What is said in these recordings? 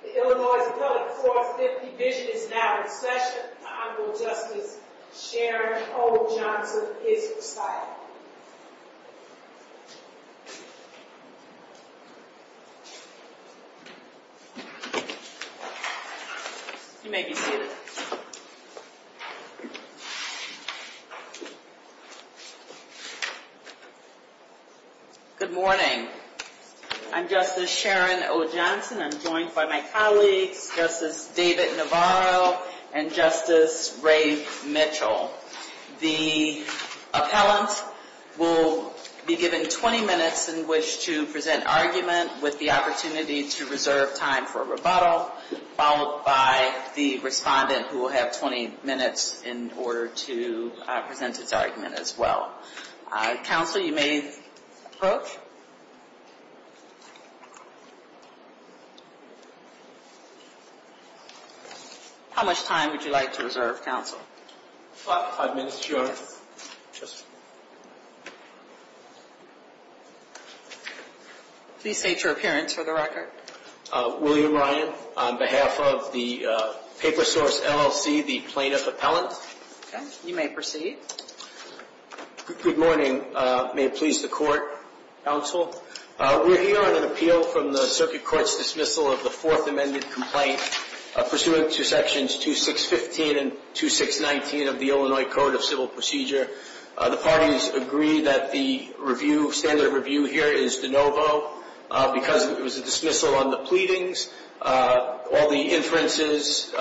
The Illinois Appellate 450 Division is now in session. Honorable Justice Sharon O. Johnson is residing. You may be seated. Good morning. I'm Justice Sharon O. Johnson. I'm joined by my colleagues, Justice David Navarro and Justice Ray Mitchell. The appellant will be given 20 minutes in which to present argument with the opportunity to reserve time for rebuttal, followed by the respondent who will have 20 minutes in order to present its argument as well. Counsel, you may approach. How much time would you like to reserve, Counsel? Five minutes, Your Honor. Please state your appearance for the record. William Ryan, on behalf of the Paper Source LLC, the plaintiff appellant. You may proceed. Good morning. May it please the Court, Counsel. We're here on an appeal from the Circuit Court's dismissal of the Fourth Amended Complaint pursuant to Sections 2615 and 2619 of the Illinois Code of Civil Procedure. The parties agree that the standard review here is de novo because it was a dismissal on the pleadings. All the inferences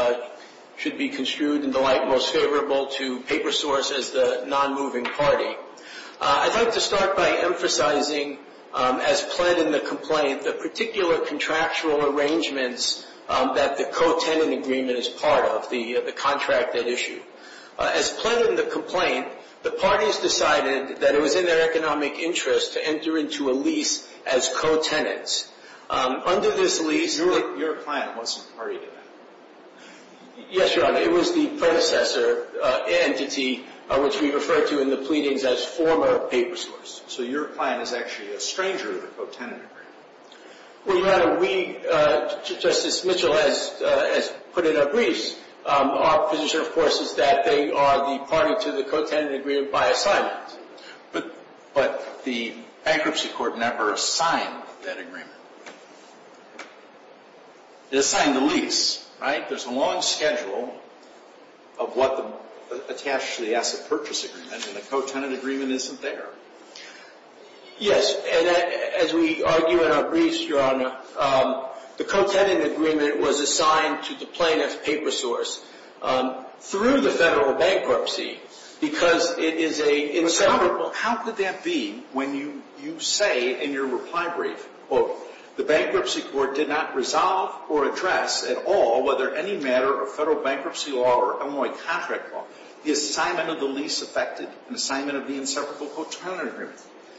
should be construed in the light most favorable to Paper Source as the non-moving party. I'd like to start by emphasizing, as planned in the complaint, the particular contractual arrangements that the co-tenant agreement is part of, the contract that issued. As planned in the complaint, the parties decided that it was in their economic interest to enter into a lease as co-tenants. Under this lease— Your client wasn't a party to that. Yes, Your Honor, it was the predecessor entity which we referred to in the pleadings as former Paper Source. So your client is actually a stranger to the co-tenant agreement. Well, Your Honor, we—Justice Mitchell has put in our briefs—our position, of course, is that they are the party to the co-tenant agreement by assignment. But the bankruptcy court never signed that agreement. It assigned the lease, right? There's a long schedule of what the—attached to the asset purchase agreement, and the co-tenant agreement isn't there. Yes, and as we argue in our briefs, Your Honor, the co-tenant agreement was assigned to the plaintiff, Paper Source, through the federal bankruptcy because it is a— Well, how could that be when you say in your reply brief, quote,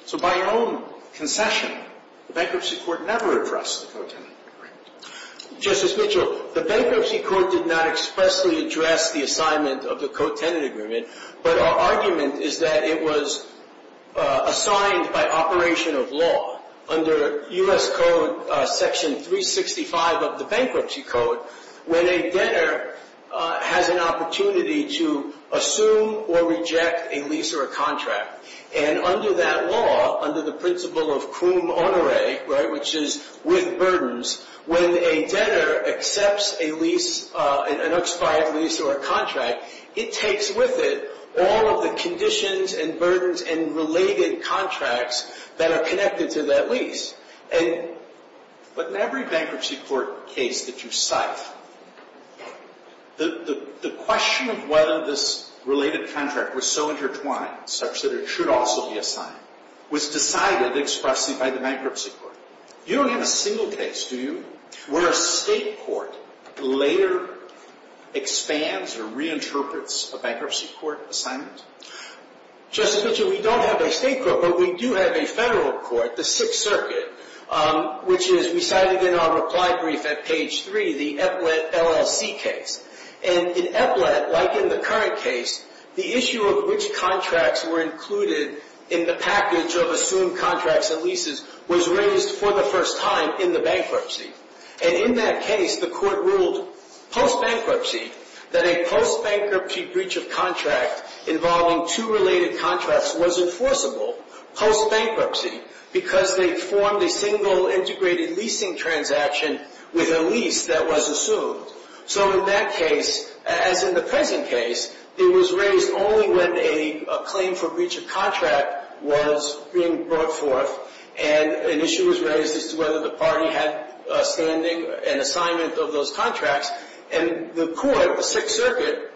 So by your own concession, the bankruptcy court never addressed the co-tenant agreement. Justice Mitchell, the bankruptcy court did not expressly address the assignment of the assigned by operation of law. Under U.S. Code Section 365 of the Bankruptcy Code, when a debtor has an opportunity to assume or reject a lease or a contract, and under that law, under the principle of cum honore, right, which is with burdens, when a debtor accepts a lease, an expired lease or a contract, it takes with it all of the conditions and burdens and related contracts that are connected to that lease. And—but in every bankruptcy court case that you cite, the question of whether this related contract was so intertwined, such that it should also be assigned, was decided expressly by the bankruptcy court. You don't have a single case, do you, where a state court later expands or reinterprets a bankruptcy court assignment? Justice Mitchell, we don't have a state court, but we do have a federal court, the Sixth Circuit, which is—we cited in our reply brief at page 3, the EPPLET LLC case. And in EPPLET, like in the current case, the issue of which contracts were included in the package of assumed contracts and leases was raised for the first time in the bankruptcy. And in that case, the court ruled post-bankruptcy that a post-bankruptcy breach of contract involving two related contracts was enforceable, post-bankruptcy, because they formed a single integrated leasing transaction with a lease that was assumed. So in that case, as in the present case, it was raised only when a claim for breach of contract was being brought forth and an issue was raised as to whether the party had standing and assignment of those contracts. And the court, the Sixth Circuit,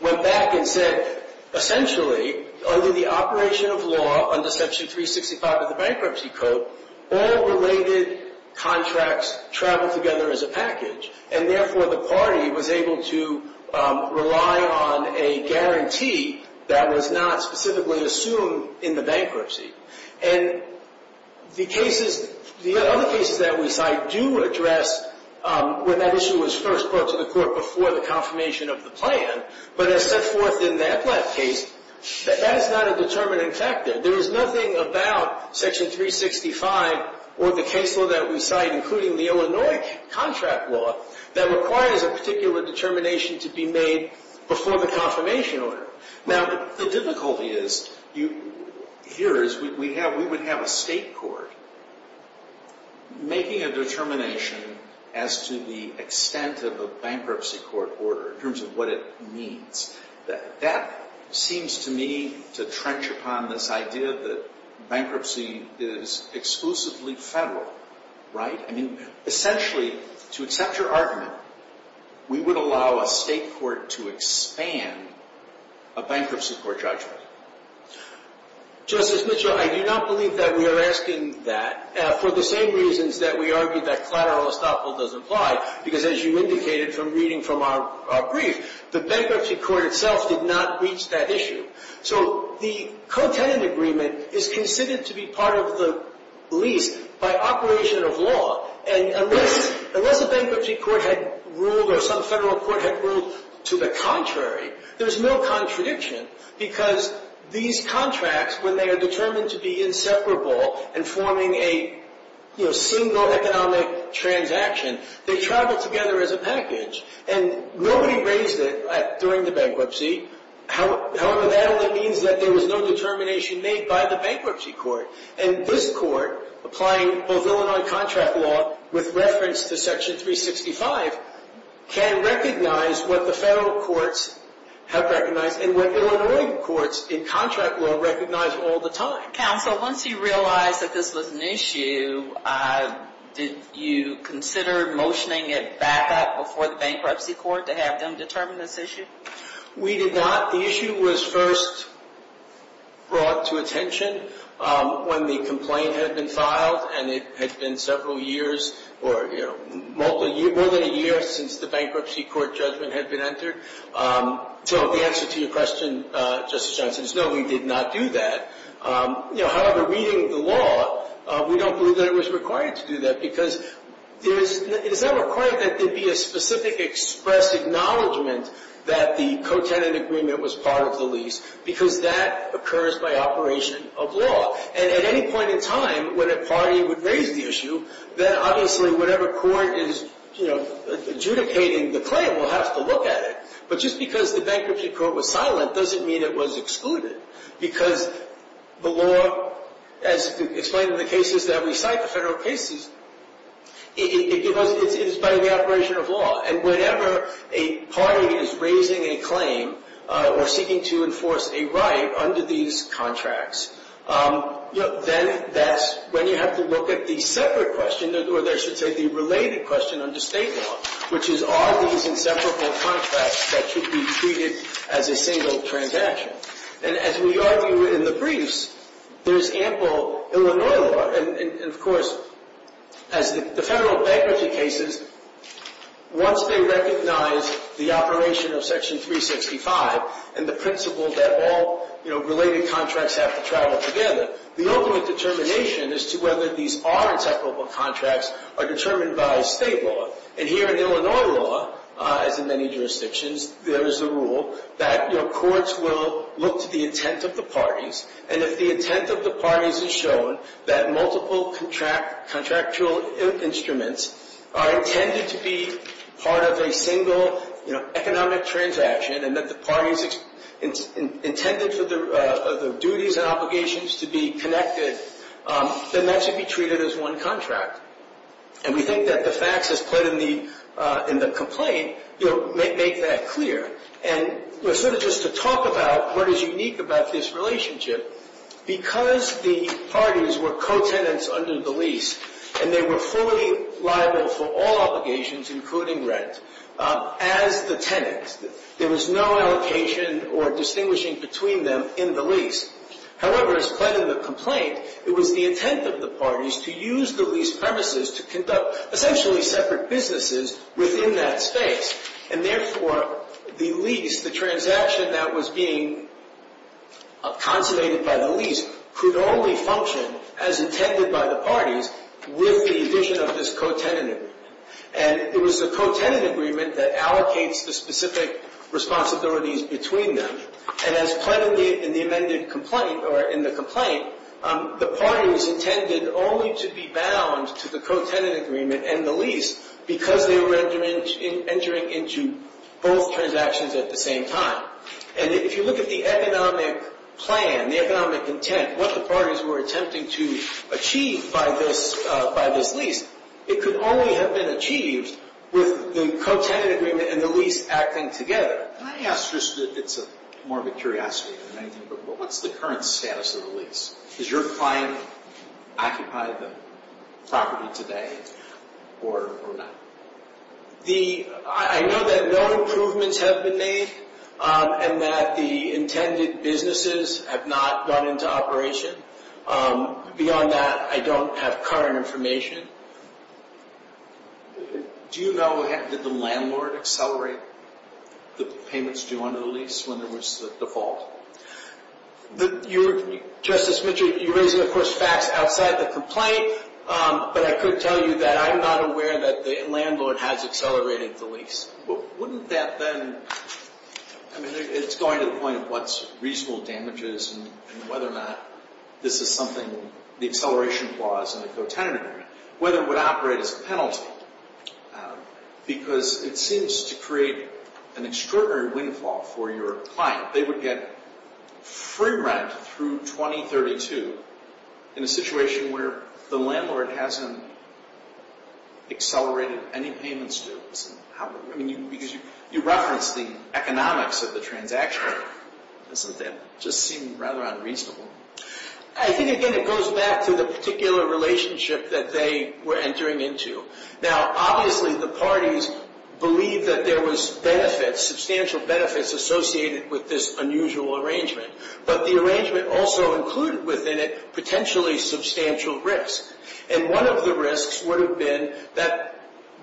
went back and said, essentially, under the operation of law, under Section 365 of the Bankruptcy Code, all related contracts travel together as a package. And therefore, the party was able to rely on a guarantee that was not specifically assumed in the bankruptcy. And the cases, the other cases that we cite do address when that issue was first brought to the court before the confirmation of the plan. But as set forth in the EPPLET case, that is not a determining factor. There is nothing about Section 365 or the case law that we cite, including the Illinois contract law, that requires a particular determination to be made before the confirmation order. Now, the difficulty is, here is, we would have a state court making a determination as to the extent of a bankruptcy court order in terms of what it means. That seems to me to trench upon this idea that bankruptcy is exclusively federal, right? I mean, essentially, to accept your argument, we would allow a state court to expand a bankruptcy court judgment. Justice Mitchell, I do not believe that we are asking that for the same reasons that we argued that collateral estoppel does apply. Because as you indicated from reading from our brief, the bankruptcy court itself did not reach that issue. So the co-tenant agreement is considered to be part of the lease by operation of law. And unless a bankruptcy court had ruled or some federal court had ruled to the contrary, there is no contradiction. Because these contracts, when they are determined to be inseparable and forming a single economic transaction, they travel together as a package. And nobody raised it during the bankruptcy. However, that only means that there was no determination made by the bankruptcy court. And this court, applying both Illinois contract law with reference to Section 365, can recognize what the federal courts have recognized and what Illinois courts in contract law recognize all the time. Counsel, once you realized that this was an issue, did you consider motioning it back up before the bankruptcy court to have them determine this issue? We did not. The issue was first brought to attention when the complaint had been filed. And it had been several years or more than a year since the bankruptcy court judgment had been entered. So the answer to your question, Justice Johnson, is no, we did not do that. However, reading the law, we don't believe that it was required to do that. Because it is not required that there be a specific expressed acknowledgment that the co-tenant agreement was part of the lease. Because that occurs by operation of law. And at any point in time, when a party would raise the issue, then obviously whatever court is adjudicating the claim will have to look at it. But just because the bankruptcy court was silent doesn't mean it was excluded. Because the law, as explained in the cases that we cite, the federal cases, it is by the operation of law. And whenever a party is raising a claim or seeking to enforce a right under these contracts, then that's when you have to look at the separate question, or I should say the related question under state law, which is are these inseparable contracts that should be treated as a single transaction. And as we argue in the briefs, there's ample Illinois law. And of course, as the federal bankruptcy cases, once they recognize the operation of Section 365 and the principle that all, you know, related contracts have to travel together, the ultimate determination as to whether these are inseparable contracts are determined by state law. And here in Illinois law, as in many jurisdictions, there is a rule that your courts will look to the intent of the parties. And if the intent of the parties is shown that multiple contractual instruments are intended to be part of a single, you know, economic transaction and that the parties intended for the duties and obligations to be connected, then that should be treated as one contract. And we think that the facts as put in the complaint, you know, make that clear. And sort of just to talk about what is unique about this relationship, because the parties were co-tenants under the lease and they were fully liable for all obligations, including rent, as the tenants, there was no allocation or distinguishing between them in the lease. However, as put in the complaint, it was the intent of the parties to use the lease premises to conduct essentially separate businesses within that space. And therefore, the lease, the transaction that was being consolidated by the lease, could only function as intended by the parties with the addition of this co-tenant agreement. And it was the co-tenant agreement that allocates the specific responsibilities between them. And as put in the amended complaint or in the complaint, the parties intended only to be bound to the co-tenant agreement and the lease because they were entering into both transactions at the same time. And if you look at the economic plan, the economic intent, what the parties were attempting to achieve by this lease, it could only have been achieved with the co-tenant agreement and the lease acting together. Can I ask just, it's more of a curiosity than anything, but what's the current status of the lease? Does your client occupy the property today or not? I know that no improvements have been made and that the intended businesses have not gone into operation. Beyond that, I don't have current information. Do you know, did the landlord accelerate the payments due under the lease when there was the default? Justice Mitchell, you're raising, of course, facts outside the complaint, but I could tell you that I'm not aware that the landlord has accelerated the lease. Wouldn't that then, I mean, it's going to the point of what's reasonable damages and whether or not this is something, the acceleration clause in the agreement, whether it would operate as a penalty. Because it seems to create an extraordinary windfall for your client. They would get free rent through 2032 in a situation where the landlord hasn't accelerated any payments due. I mean, because you referenced the economics of the transaction. Doesn't that just seem rather unreasonable? I think, again, it goes back to the particular relationship that they were entering into. Now, obviously, the parties believed that there was benefits, substantial benefits associated with this unusual arrangement. But the arrangement also included within it potentially substantial risk. And one of the risks would have been that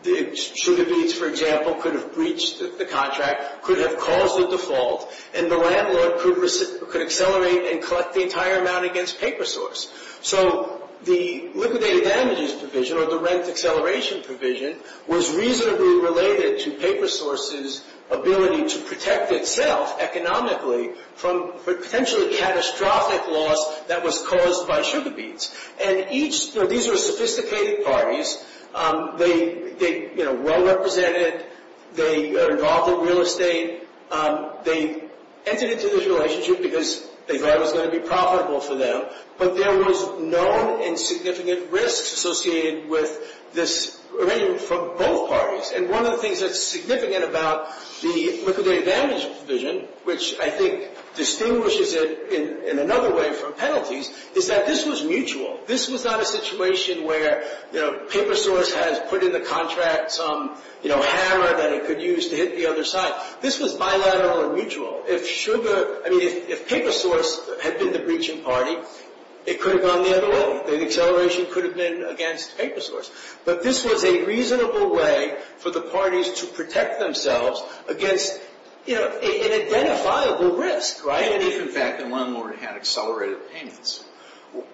the Chute of Eats, for example, could have breached the contract, could have caused a default, and the landlord could accelerate and collect the entire amount against paper source. So the liquidated damages provision or the rent acceleration provision was reasonably related to paper source's ability to protect itself economically from potentially catastrophic loss that was caused by Sugar Beets. And each, you know, these are sophisticated parties. They, you know, well represented. They are involved in real estate. They entered into this relationship because they thought it was going to be profitable for them. But there was known and significant risks associated with this arrangement from both parties. And one of the things that's significant about the liquidated damages provision, which I think distinguishes it in another way from penalties, is that this was mutual. This was not a situation where, you know, paper source has put in the contract some, you know, hammer that it could use to hit the other side. This was bilateral and mutual. If Sugar, I mean, if paper source had been the breaching party, it could have gone the other way. The acceleration could have been against paper source. But this was a reasonable way for the parties to protect themselves against, you know, an identifiable risk, right? And if, in fact, the landlord had accelerated payments.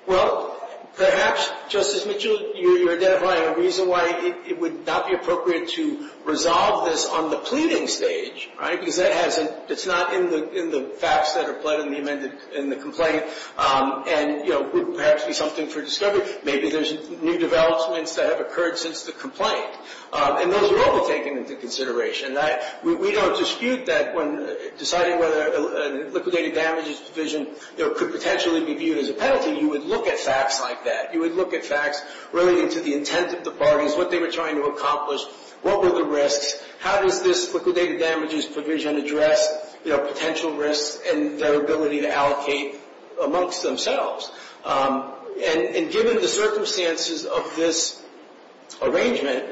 Well, perhaps, Justice Mitchell, you're identifying a reason why it would not be appropriate to resolve this on the pleading stage, right? Because it's not in the facts that are pled in the complaint. And, you know, it would perhaps be something for discovery. Maybe there's new developments that have occurred since the complaint. And those are all to be taken into consideration. We don't dispute that when deciding whether a liquidated damages provision could potentially be viewed as a penalty. You would look at facts like that. You would look at facts related to the intent of the parties, what they were trying to accomplish, what were the risks, how does this liquidated damages provision address, you know, potential risks and their ability to allocate amongst themselves. And given the circumstances of this arrangement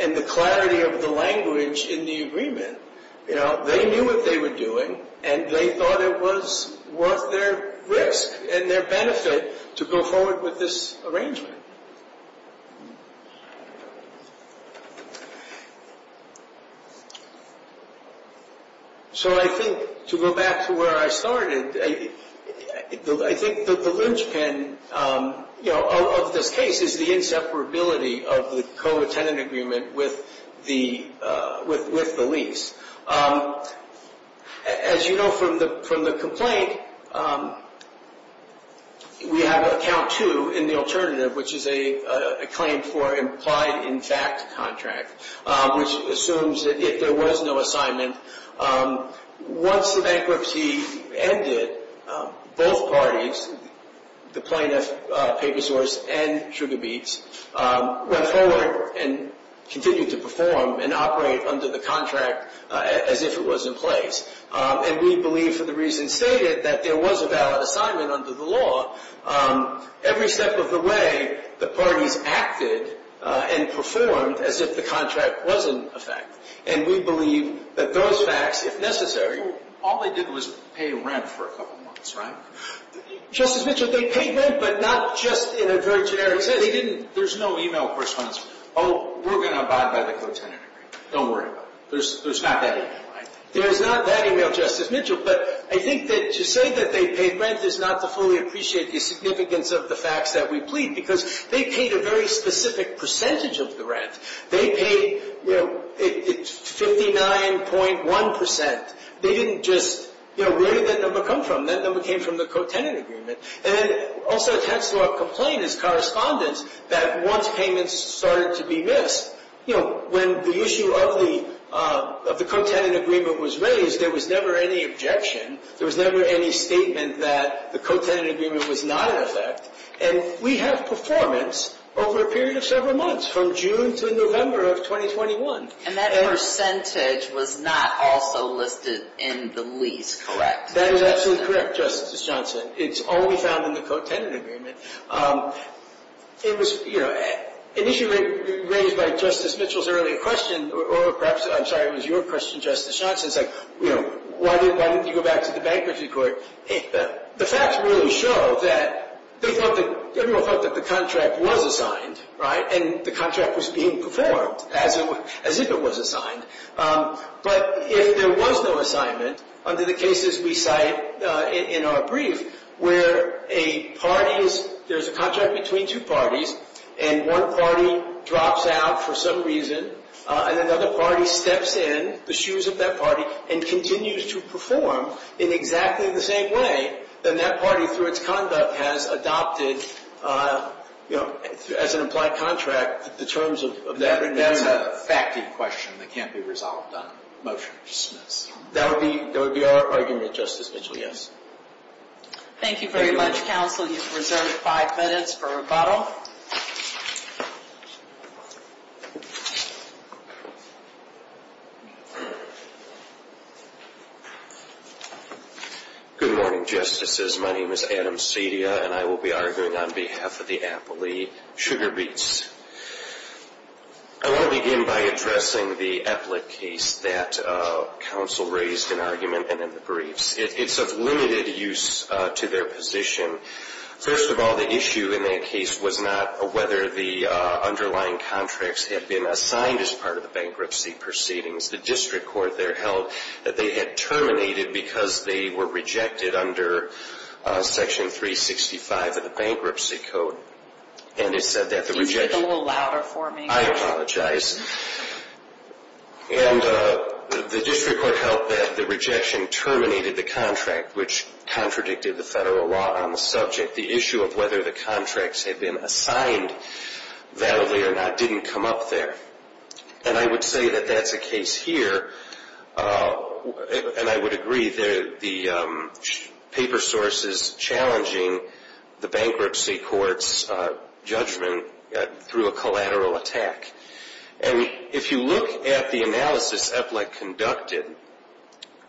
and the clarity of the language in the agreement, you know, they knew what they were doing and they thought it was worth their risk and their benefit to go forward with this arrangement. So I think to go back to where I started, I think the linchpin, you know, of this case is the inseparability of the co-attendant agreement with the lease. As you know from the complaint, we have a count two in the alternative, which is a claim for implied in fact contract, which assumes that if there was no assignment, once the bankruptcy ended, both parties, the plaintiff, Paper Source, and Sugar Beets, went forward and continued to perform and operate under the contract as if it was in place. And we believe, for the reasons stated, that there was a valid assignment under the law. Every step of the way, the parties acted and performed as if the contract wasn't a fact. And we believe that those facts, if necessary. All they did was pay rent for a couple months, right? Justice Mitchell, they paid rent, but not just in a very generic sense. They didn't. There's no e-mail correspondence. Oh, we're going to abide by the co-attendant agreement. Don't worry about it. There's not that e-mail, right? There's not that e-mail, Justice Mitchell. But I think that to say that they paid rent is not to fully appreciate the significance of the facts that we plead, because they paid a very specific percentage of the rent. They paid, you know, 59.1%. They didn't just, you know, where did that number come from? That number came from the co-tenant agreement. And then also it adds to our complaint as correspondents that once payments started to be missed, you know, when the issue of the co-tenant agreement was raised, there was never any objection. There was never any statement that the co-tenant agreement was not in effect. And we have performance over a period of several months, from June to November of 2021. And that percentage was not also listed in the lease, correct? That is absolutely correct, Justice Johnson. It's only found in the co-tenant agreement. It was, you know, an issue raised by Justice Mitchell's earlier question, or perhaps, I'm sorry, it was your question, Justice Johnson. It's like, you know, why didn't you go back to the bankruptcy court? The facts really show that they thought that the contract was assigned, right? And the contract was being performed as if it was assigned. But if there was no assignment, under the cases we cite in our brief, where a party is, there's a contract between two parties, and one party drops out for some reason, and another party steps in the shoes of that party and continues to perform in exactly the same way, then that party, through its conduct, has adopted, you know, as an implied contract, the terms of that agreement. And that's a fact-y question that can't be resolved on motion to dismiss. That would be our argument, Justice Mitchell, yes. Thank you very much, counsel. You've reserved five minutes for rebuttal. Good morning, Justices. My name is Adam Cedia, and I will be arguing on behalf of the Appley Sugar Beets. I want to begin by addressing the Eplick case that counsel raised in argument and in the briefs. It's of limited use to their position. First of all, the issue in that case was not whether the underlying contracts had been assigned as part of the bankruptcy proceedings. The district court there held that they had terminated because they were rejected under Section 365 of the Bankruptcy Code. Can you speak a little louder for me? I apologize. And the district court held that the rejection terminated the contract, which contradicted the federal law on the subject. The issue of whether the contracts had been assigned validly or not didn't come up there. And I would say that that's a case here, and I would agree that the paper source is challenging the bankruptcy court's judgment through a collateral attack. And if you look at the analysis Eplick conducted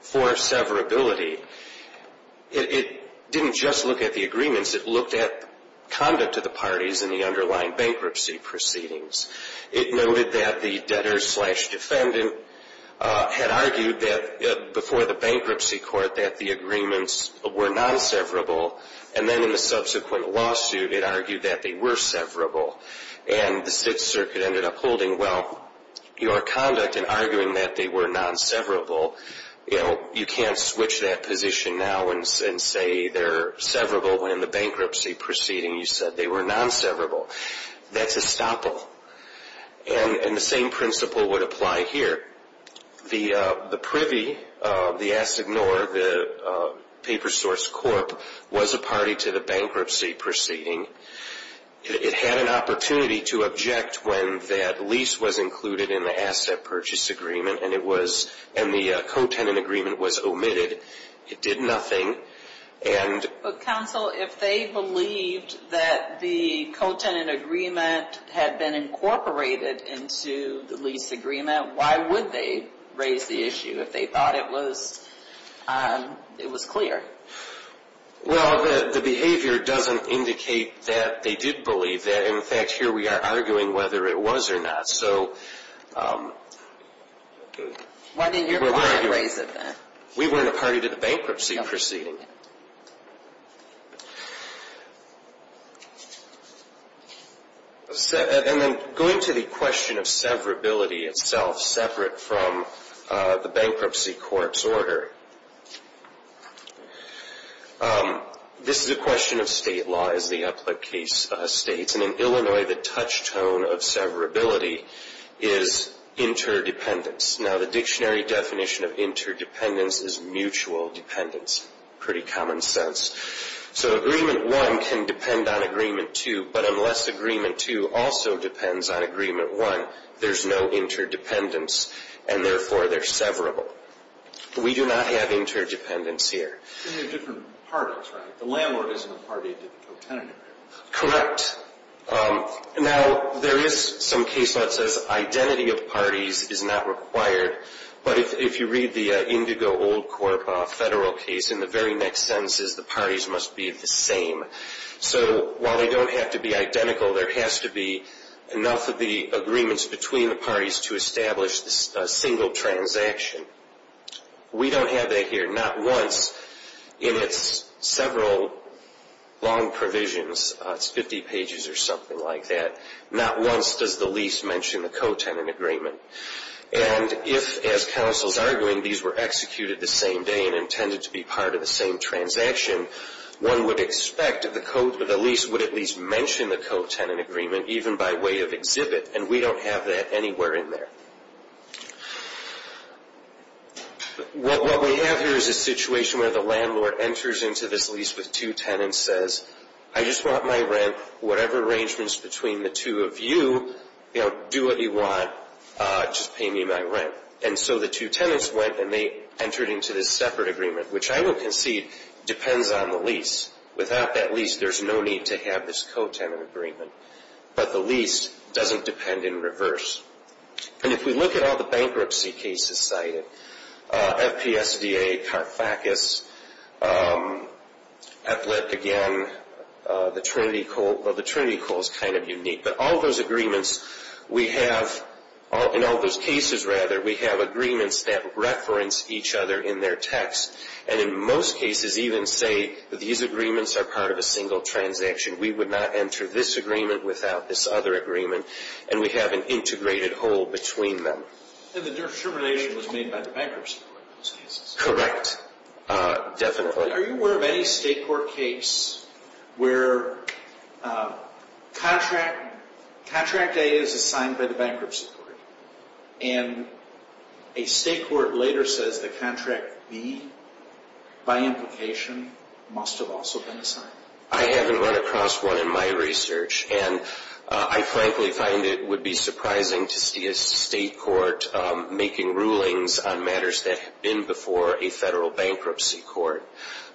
for severability, it didn't just look at the agreements. It looked at conduct of the parties in the underlying bankruptcy proceedings. It noted that the debtor-slash-defendant had argued that before the bankruptcy court that the agreements were non-severable, and then in the subsequent lawsuit it argued that they were severable. And the district circuit ended up holding, well, your conduct in arguing that they were non-severable, you know, you can't switch that position now and say they're severable when in the bankruptcy proceeding you said they were non-severable. That's a stopple. And the same principle would apply here. The privy, the assignor, the paper source corp, was a party to the bankruptcy proceeding. It had an opportunity to object when that lease was included in the asset purchase agreement, and the co-tenant agreement was omitted. It did nothing. But counsel, if they believed that the co-tenant agreement had been incorporated into the lease agreement, why would they raise the issue if they thought it was clear? Well, the behavior doesn't indicate that they did believe that. In fact, here we are arguing whether it was or not. Why didn't your client raise it then? We weren't a party to the bankruptcy proceeding. And then going to the question of severability itself, separate from the bankruptcy corpse order, this is a question of state law, as the Upland case states. And in Illinois, the touchstone of severability is interdependence. Now, the dictionary definition of interdependence is mutual dependence, pretty common sense. So Agreement 1 can depend on Agreement 2, but unless Agreement 2 also depends on Agreement 1, there's no interdependence, and therefore they're severable. We do not have interdependence here. They're different parties, right? The landlord isn't a party to the co-tenant agreement. Correct. Now, there is some case law that says identity of parties is not required, but if you read the Indigo-Old Corp. federal case, in the very next sentence, the parties must be the same. So while they don't have to be identical, there has to be enough of the agreements between the parties to establish a single transaction. We don't have that here. Not once in its several long provisions, it's 50 pages or something like that, not once does the lease mention the co-tenant agreement. And if, as counsel is arguing, these were executed the same day and intended to be part of the same transaction, one would expect that the lease would at least mention the co-tenant agreement, even by way of exhibit, and we don't have that anywhere in there. What we have here is a situation where the landlord enters into this lease with two tenants and says, I just want my rent, whatever arrangements between the two of you, do what you want, just pay me my rent. And so the two tenants went and they entered into this separate agreement, which I would concede depends on the lease. Without that lease, there's no need to have this co-tenant agreement. But the lease doesn't depend in reverse. And if we look at all the bankruptcy cases cited, FPSDA, CARFACAS, ATHLET, again, the Trinity Coal is kind of unique. But all those agreements we have, in all those cases, rather, we have agreements that reference each other in their text, and in most cases even say that these agreements are part of a single transaction. We would not enter this agreement without this other agreement. And we have an integrated whole between them. And the determination was made by the bankruptcy court in those cases? Correct. Definitely. Are you aware of any state court case where contract A is assigned by the bankruptcy court, and a state court later says that contract B, by implication, must have also been assigned? I haven't run across one in my research. And I frankly find it would be surprising to see a state court making rulings on matters that have been before a federal bankruptcy court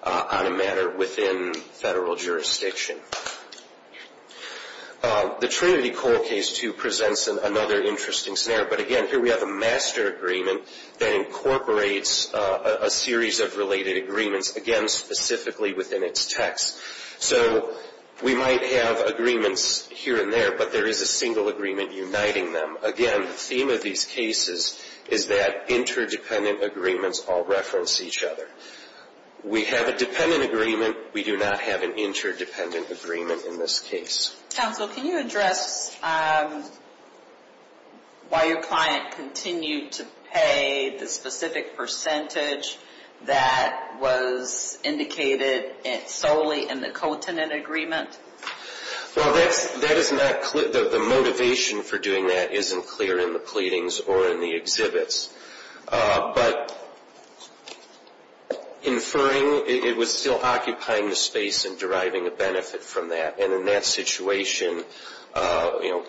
on a matter within federal jurisdiction. The Trinity Coal case, too, presents another interesting scenario. But, again, here we have a master agreement that incorporates a series of related agreements, again, specifically within its text. So we might have agreements here and there, but there is a single agreement uniting them. Again, the theme of these cases is that interdependent agreements all reference each other. We have a dependent agreement. We do not have an interdependent agreement in this case. Counsel, can you address why your client continued to pay the specific percentage that was indicated solely in the cotinent agreement? Well, that is not clear. The motivation for doing that isn't clear in the pleadings or in the exhibits. But inferring, it was still occupying the space and deriving a benefit from that. And in that situation,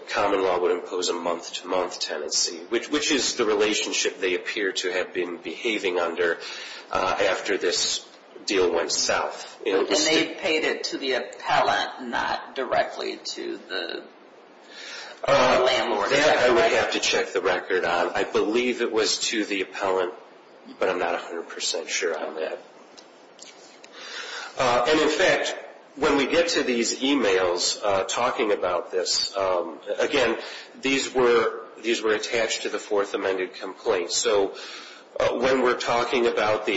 common law would impose a month-to-month tenancy, which is the relationship they appear to have been behaving under after this deal went south. And they paid it to the appellant, not directly to the landlord? That I would have to check the record on. I believe it was to the appellant, but I'm not 100 percent sure on that. And, in fact, when we get to these e-mails talking about this, again, these were attached to the Fourth Amendment complaint. So when we're talking about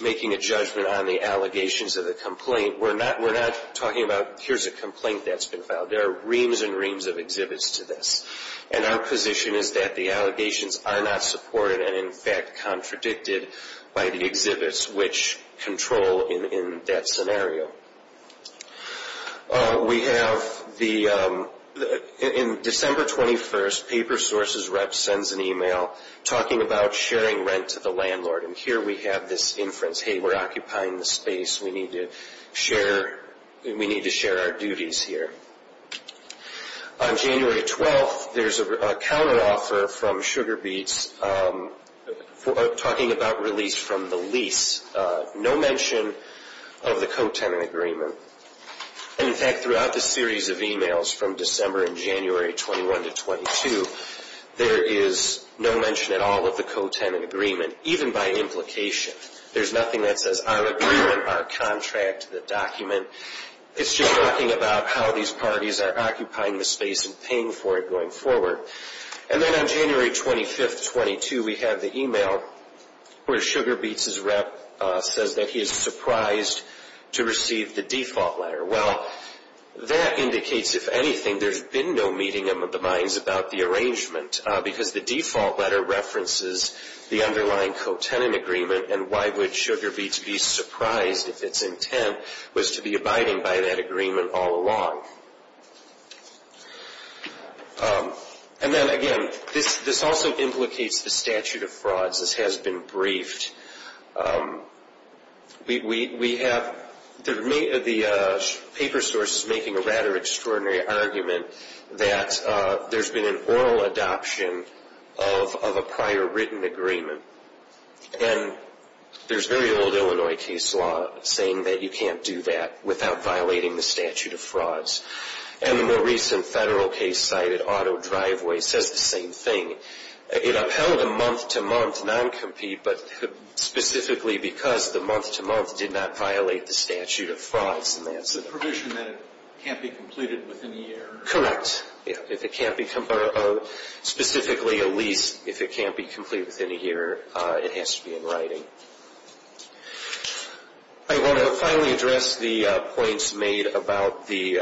making a judgment on the allegations of the complaint, we're not talking about, here's a complaint that's been filed. There are reams and reams of exhibits to this. And our position is that the allegations are not supported and, in fact, contradicted by the exhibits, which control in that scenario. We have, in December 21st, Paper Sources Rep sends an e-mail talking about sharing rent to the landlord. And here we have this inference, hey, we're occupying the space. We need to share our duties here. On January 12th, there's a counteroffer from Sugar Beets talking about release from the lease. No mention of the co-tenant agreement. And, in fact, throughout this series of e-mails from December and January 21 to 22, there is no mention at all of the co-tenant agreement, even by implication. There's nothing that says our agreement, our contract, the document. It's just talking about how these parties are occupying the space and paying for it going forward. And then on January 25th, 22, we have the e-mail where Sugar Beets' rep says that he is surprised to receive the default letter. Well, that indicates, if anything, there's been no meeting in the minds about the arrangement because the default letter references the underlying co-tenant agreement, and why would Sugar Beets be surprised if its intent was to be abiding by that agreement all along. And then, again, this also implicates the statute of frauds. This has been briefed. We have the paper sources making a rather extraordinary argument that there's been an oral adoption of a prior written agreement. And there's very old Illinois case law saying that you can't do that without violating the statute of frauds. And the recent Federal case cited, Auto Driveway, says the same thing. It upheld a month-to-month non-compete, but specifically because the month-to-month did not violate the statute of frauds. And that's the provision that it can't be completed within a year. Correct. Specifically, a lease, if it can't be completed within a year, it has to be in writing. I want to finally address the points made about the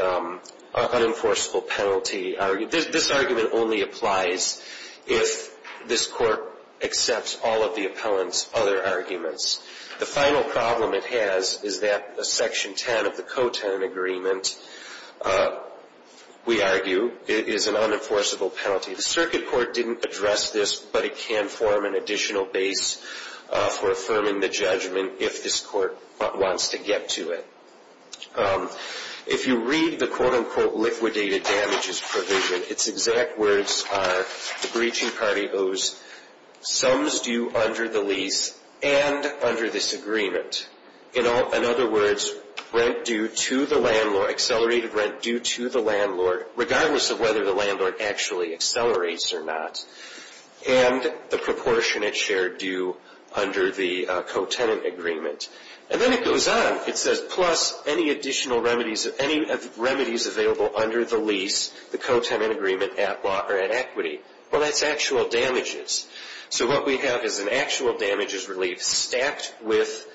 unenforceable penalty. This argument only applies if this court accepts all of the appellant's other arguments. The final problem it has is that Section 10 of the co-tenant agreement, we argue, is an unenforceable penalty. The circuit court didn't address this, but it can form an additional base for affirming the judgment if this court wants to get to it. If you read the quote-unquote liquidated damages provision, its exact words are the breaching party owes sums due under the lease and under this agreement. In other words, accelerated rent due to the landlord, regardless of whether the landlord actually accelerates or not, and the proportionate share due under the co-tenant agreement. And then it goes on. It says, plus any additional remedies, any remedies available under the lease, the co-tenant agreement at equity. Well, that's actual damages. So what we have is an actual damages relief stacked with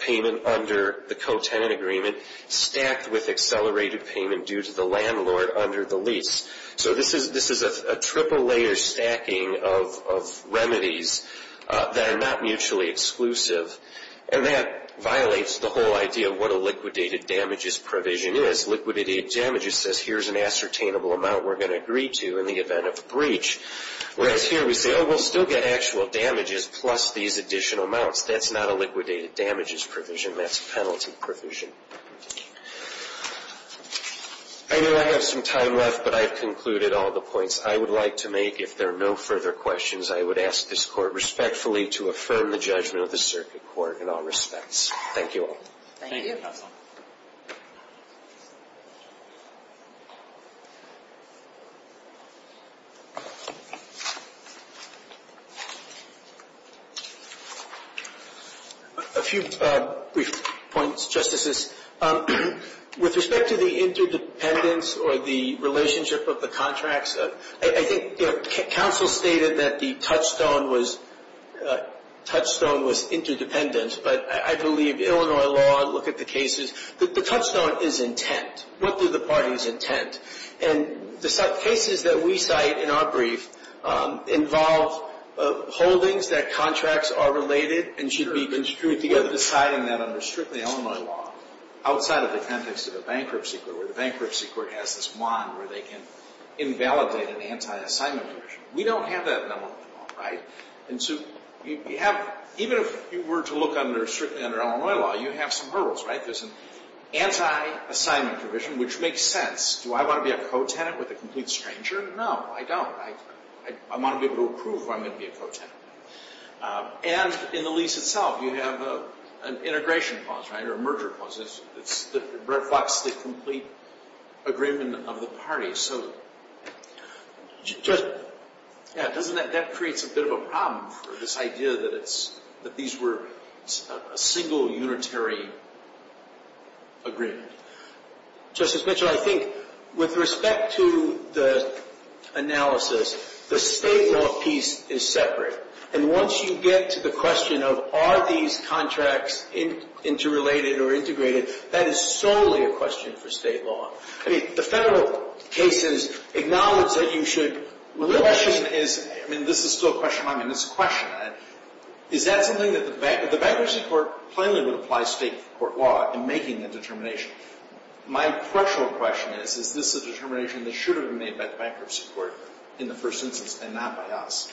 payment under the co-tenant agreement, stacked with accelerated payment due to the landlord under the lease. So this is a triple-layer stacking of remedies that are not mutually exclusive, and that violates the whole idea of what a liquidated damages provision is. Liquidated damages says here's an ascertainable amount we're going to agree to in the event of a breach. Whereas here we say, oh, we'll still get actual damages plus these additional amounts. That's not a liquidated damages provision. That's a penalty provision. I know I have some time left, but I've concluded all the points I would like to make. If there are no further questions, I would ask this Court respectfully to affirm the judgment of the Circuit Court in all respects. Thank you all. Thank you. A few brief points, Justices. With respect to the interdependence or the relationship of the contracts, I think counsel stated that the touchstone was interdependent, but I believe Illinois law, look at the cases, the touchstone is intent. What is the party's intent? And the cases that we cite in our brief involve holdings that contracts are related and should be construed together. We're deciding that under strictly Illinois law, outside of the context of a bankruptcy court, where the bankruptcy court has this wand where they can invalidate an anti-assignment provision. We don't have that in Illinois law, right? Even if you were to look strictly under Illinois law, you have some hurdles, right? There's an anti-assignment provision, which makes sense. Do I want to be a co-tenant with a complete stranger? No, I don't. I want to be able to approve if I'm going to be a co-tenant. And in the lease itself, you have an integration clause, right, or a merger clause. It reflects the complete agreement of the parties. That creates a bit of a problem for this idea that these were a single, unitary agreement. Justice Mitchell, I think with respect to the analysis, the state law piece is separate. And once you get to the question of are these contracts interrelated or integrated, that is solely a question for state law. I mean, the federal cases acknowledge that you should – The question is – I mean, this is still a question. I mean, it's a question. Is that something that the bankruptcy court plainly would apply state court law in making the determination? My threshold question is, is this a determination that should have been made by the bankruptcy court in the first instance and not by us?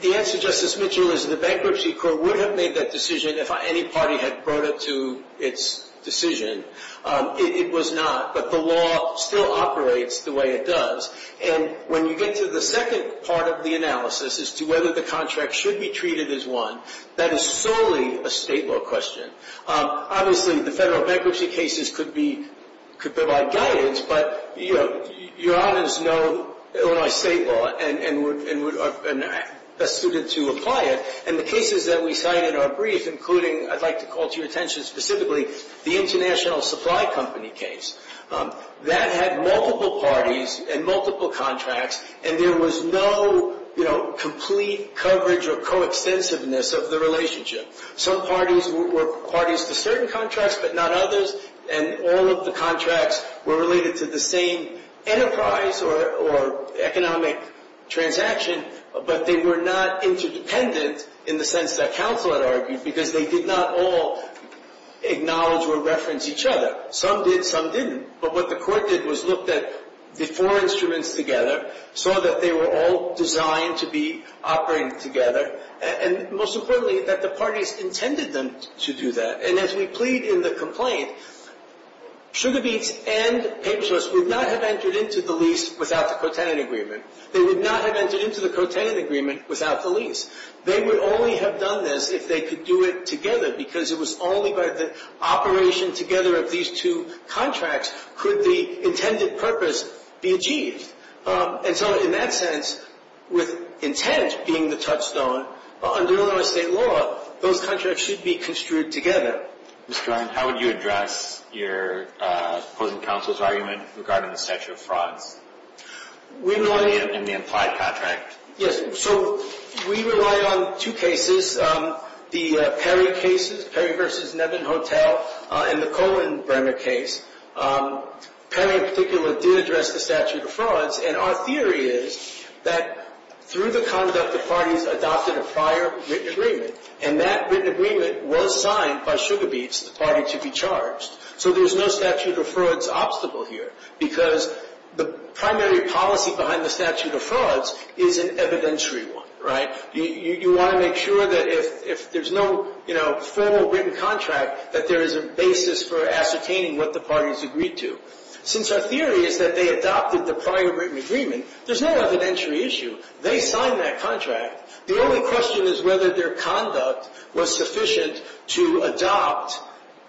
The answer, Justice Mitchell, is the bankruptcy court would have made that decision if any party had brought it to its decision. It was not. But the law still operates the way it does. And when you get to the second part of the analysis as to whether the contract should be treated as one, that is solely a state law question. Obviously, the federal bankruptcy cases could be – could provide guidance. But, you know, your honors know Illinois state law and are best suited to apply it. And the cases that we cite in our brief, including – I'd like to call to your attention specifically the international supply company case. That had multiple parties and multiple contracts. And there was no, you know, complete coverage or coextensiveness of the relationship. Some parties were parties to certain contracts but not others. And all of the contracts were related to the same enterprise or economic transaction. But they were not interdependent in the sense that counsel had argued because they did not all acknowledge or reference each other. Some did. Some didn't. But what the court did was looked at the four instruments together, saw that they were all designed to be operating together. And most importantly, that the parties intended them to do that. And as we plead in the complaint, Sugar Beets and Paper Source would not have entered into the lease without the co-tenant agreement. They would not have entered into the co-tenant agreement without the lease. They would only have done this if they could do it together because it was only by the operation together of these two contracts could the intended purpose be achieved. And so in that sense, with intent being the touchstone, under Illinois state law, those contracts should be construed together. Mr. Ryan, how would you address your opposing counsel's argument regarding the statute of frauds? We rely on the implied contract. Yes. So we rely on two cases. The Perry cases, Perry v. Nevin Hotel, and the Cohen-Brenner case. Perry in particular did address the statute of frauds. And our theory is that through the conduct, the parties adopted a prior written agreement. And that written agreement was signed by Sugar Beets, the party to be charged. So there's no statute of frauds obstacle here because the primary policy behind the statute of frauds is an evidentiary one, right? You want to make sure that if there's no, you know, formal written contract, that there is a basis for ascertaining what the parties agreed to. Since our theory is that they adopted the prior written agreement, there's no evidentiary issue. They signed that contract. The only question is whether their conduct was sufficient to adopt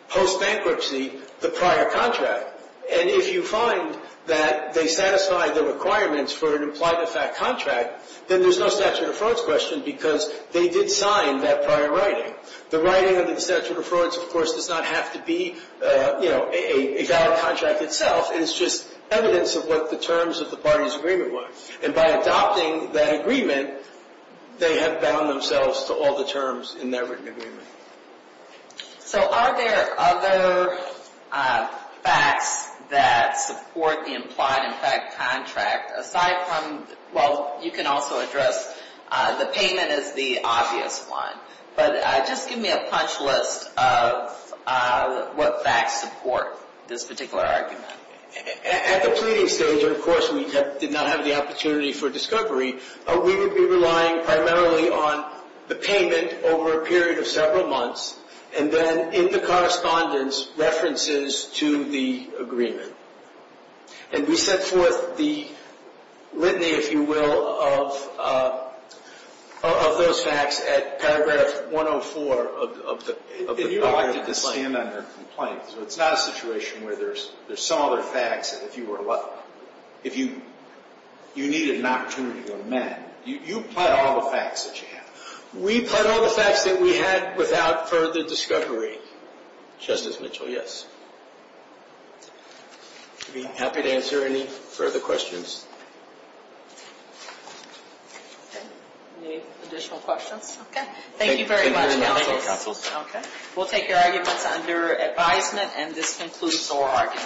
post-bankruptcy the prior contract. And if you find that they satisfy the requirements for an implied-to-fact contract, then there's no statute of frauds question because they did sign that prior writing. The writing of the statute of frauds, of course, does not have to be, you know, a valid contract itself. It's just evidence of what the terms of the parties' agreement were. And by adopting that agreement, they have bound themselves to all the terms in their written agreement. So are there other facts that support the implied-to-fact contract aside from, well, you can also address the payment as the obvious one. But just give me a punch list of what facts support this particular argument. At the pleading stage, and of course we did not have the opportunity for discovery, we would be relying primarily on the payment over a period of several months and then in the correspondence, references to the agreement. And we set forth the litany, if you will, of those facts at paragraph 104 of the prior complaint. So it's not a situation where there's some other facts. If you needed an opportunity to amend, you put all the facts that you have. We put all the facts that we had without further discovery. Justice Mitchell, yes. I'd be happy to answer any further questions. Okay. Any additional questions? Okay. Thank you very much, counsel. Okay. We'll take your arguments under advisement and this concludes our argument.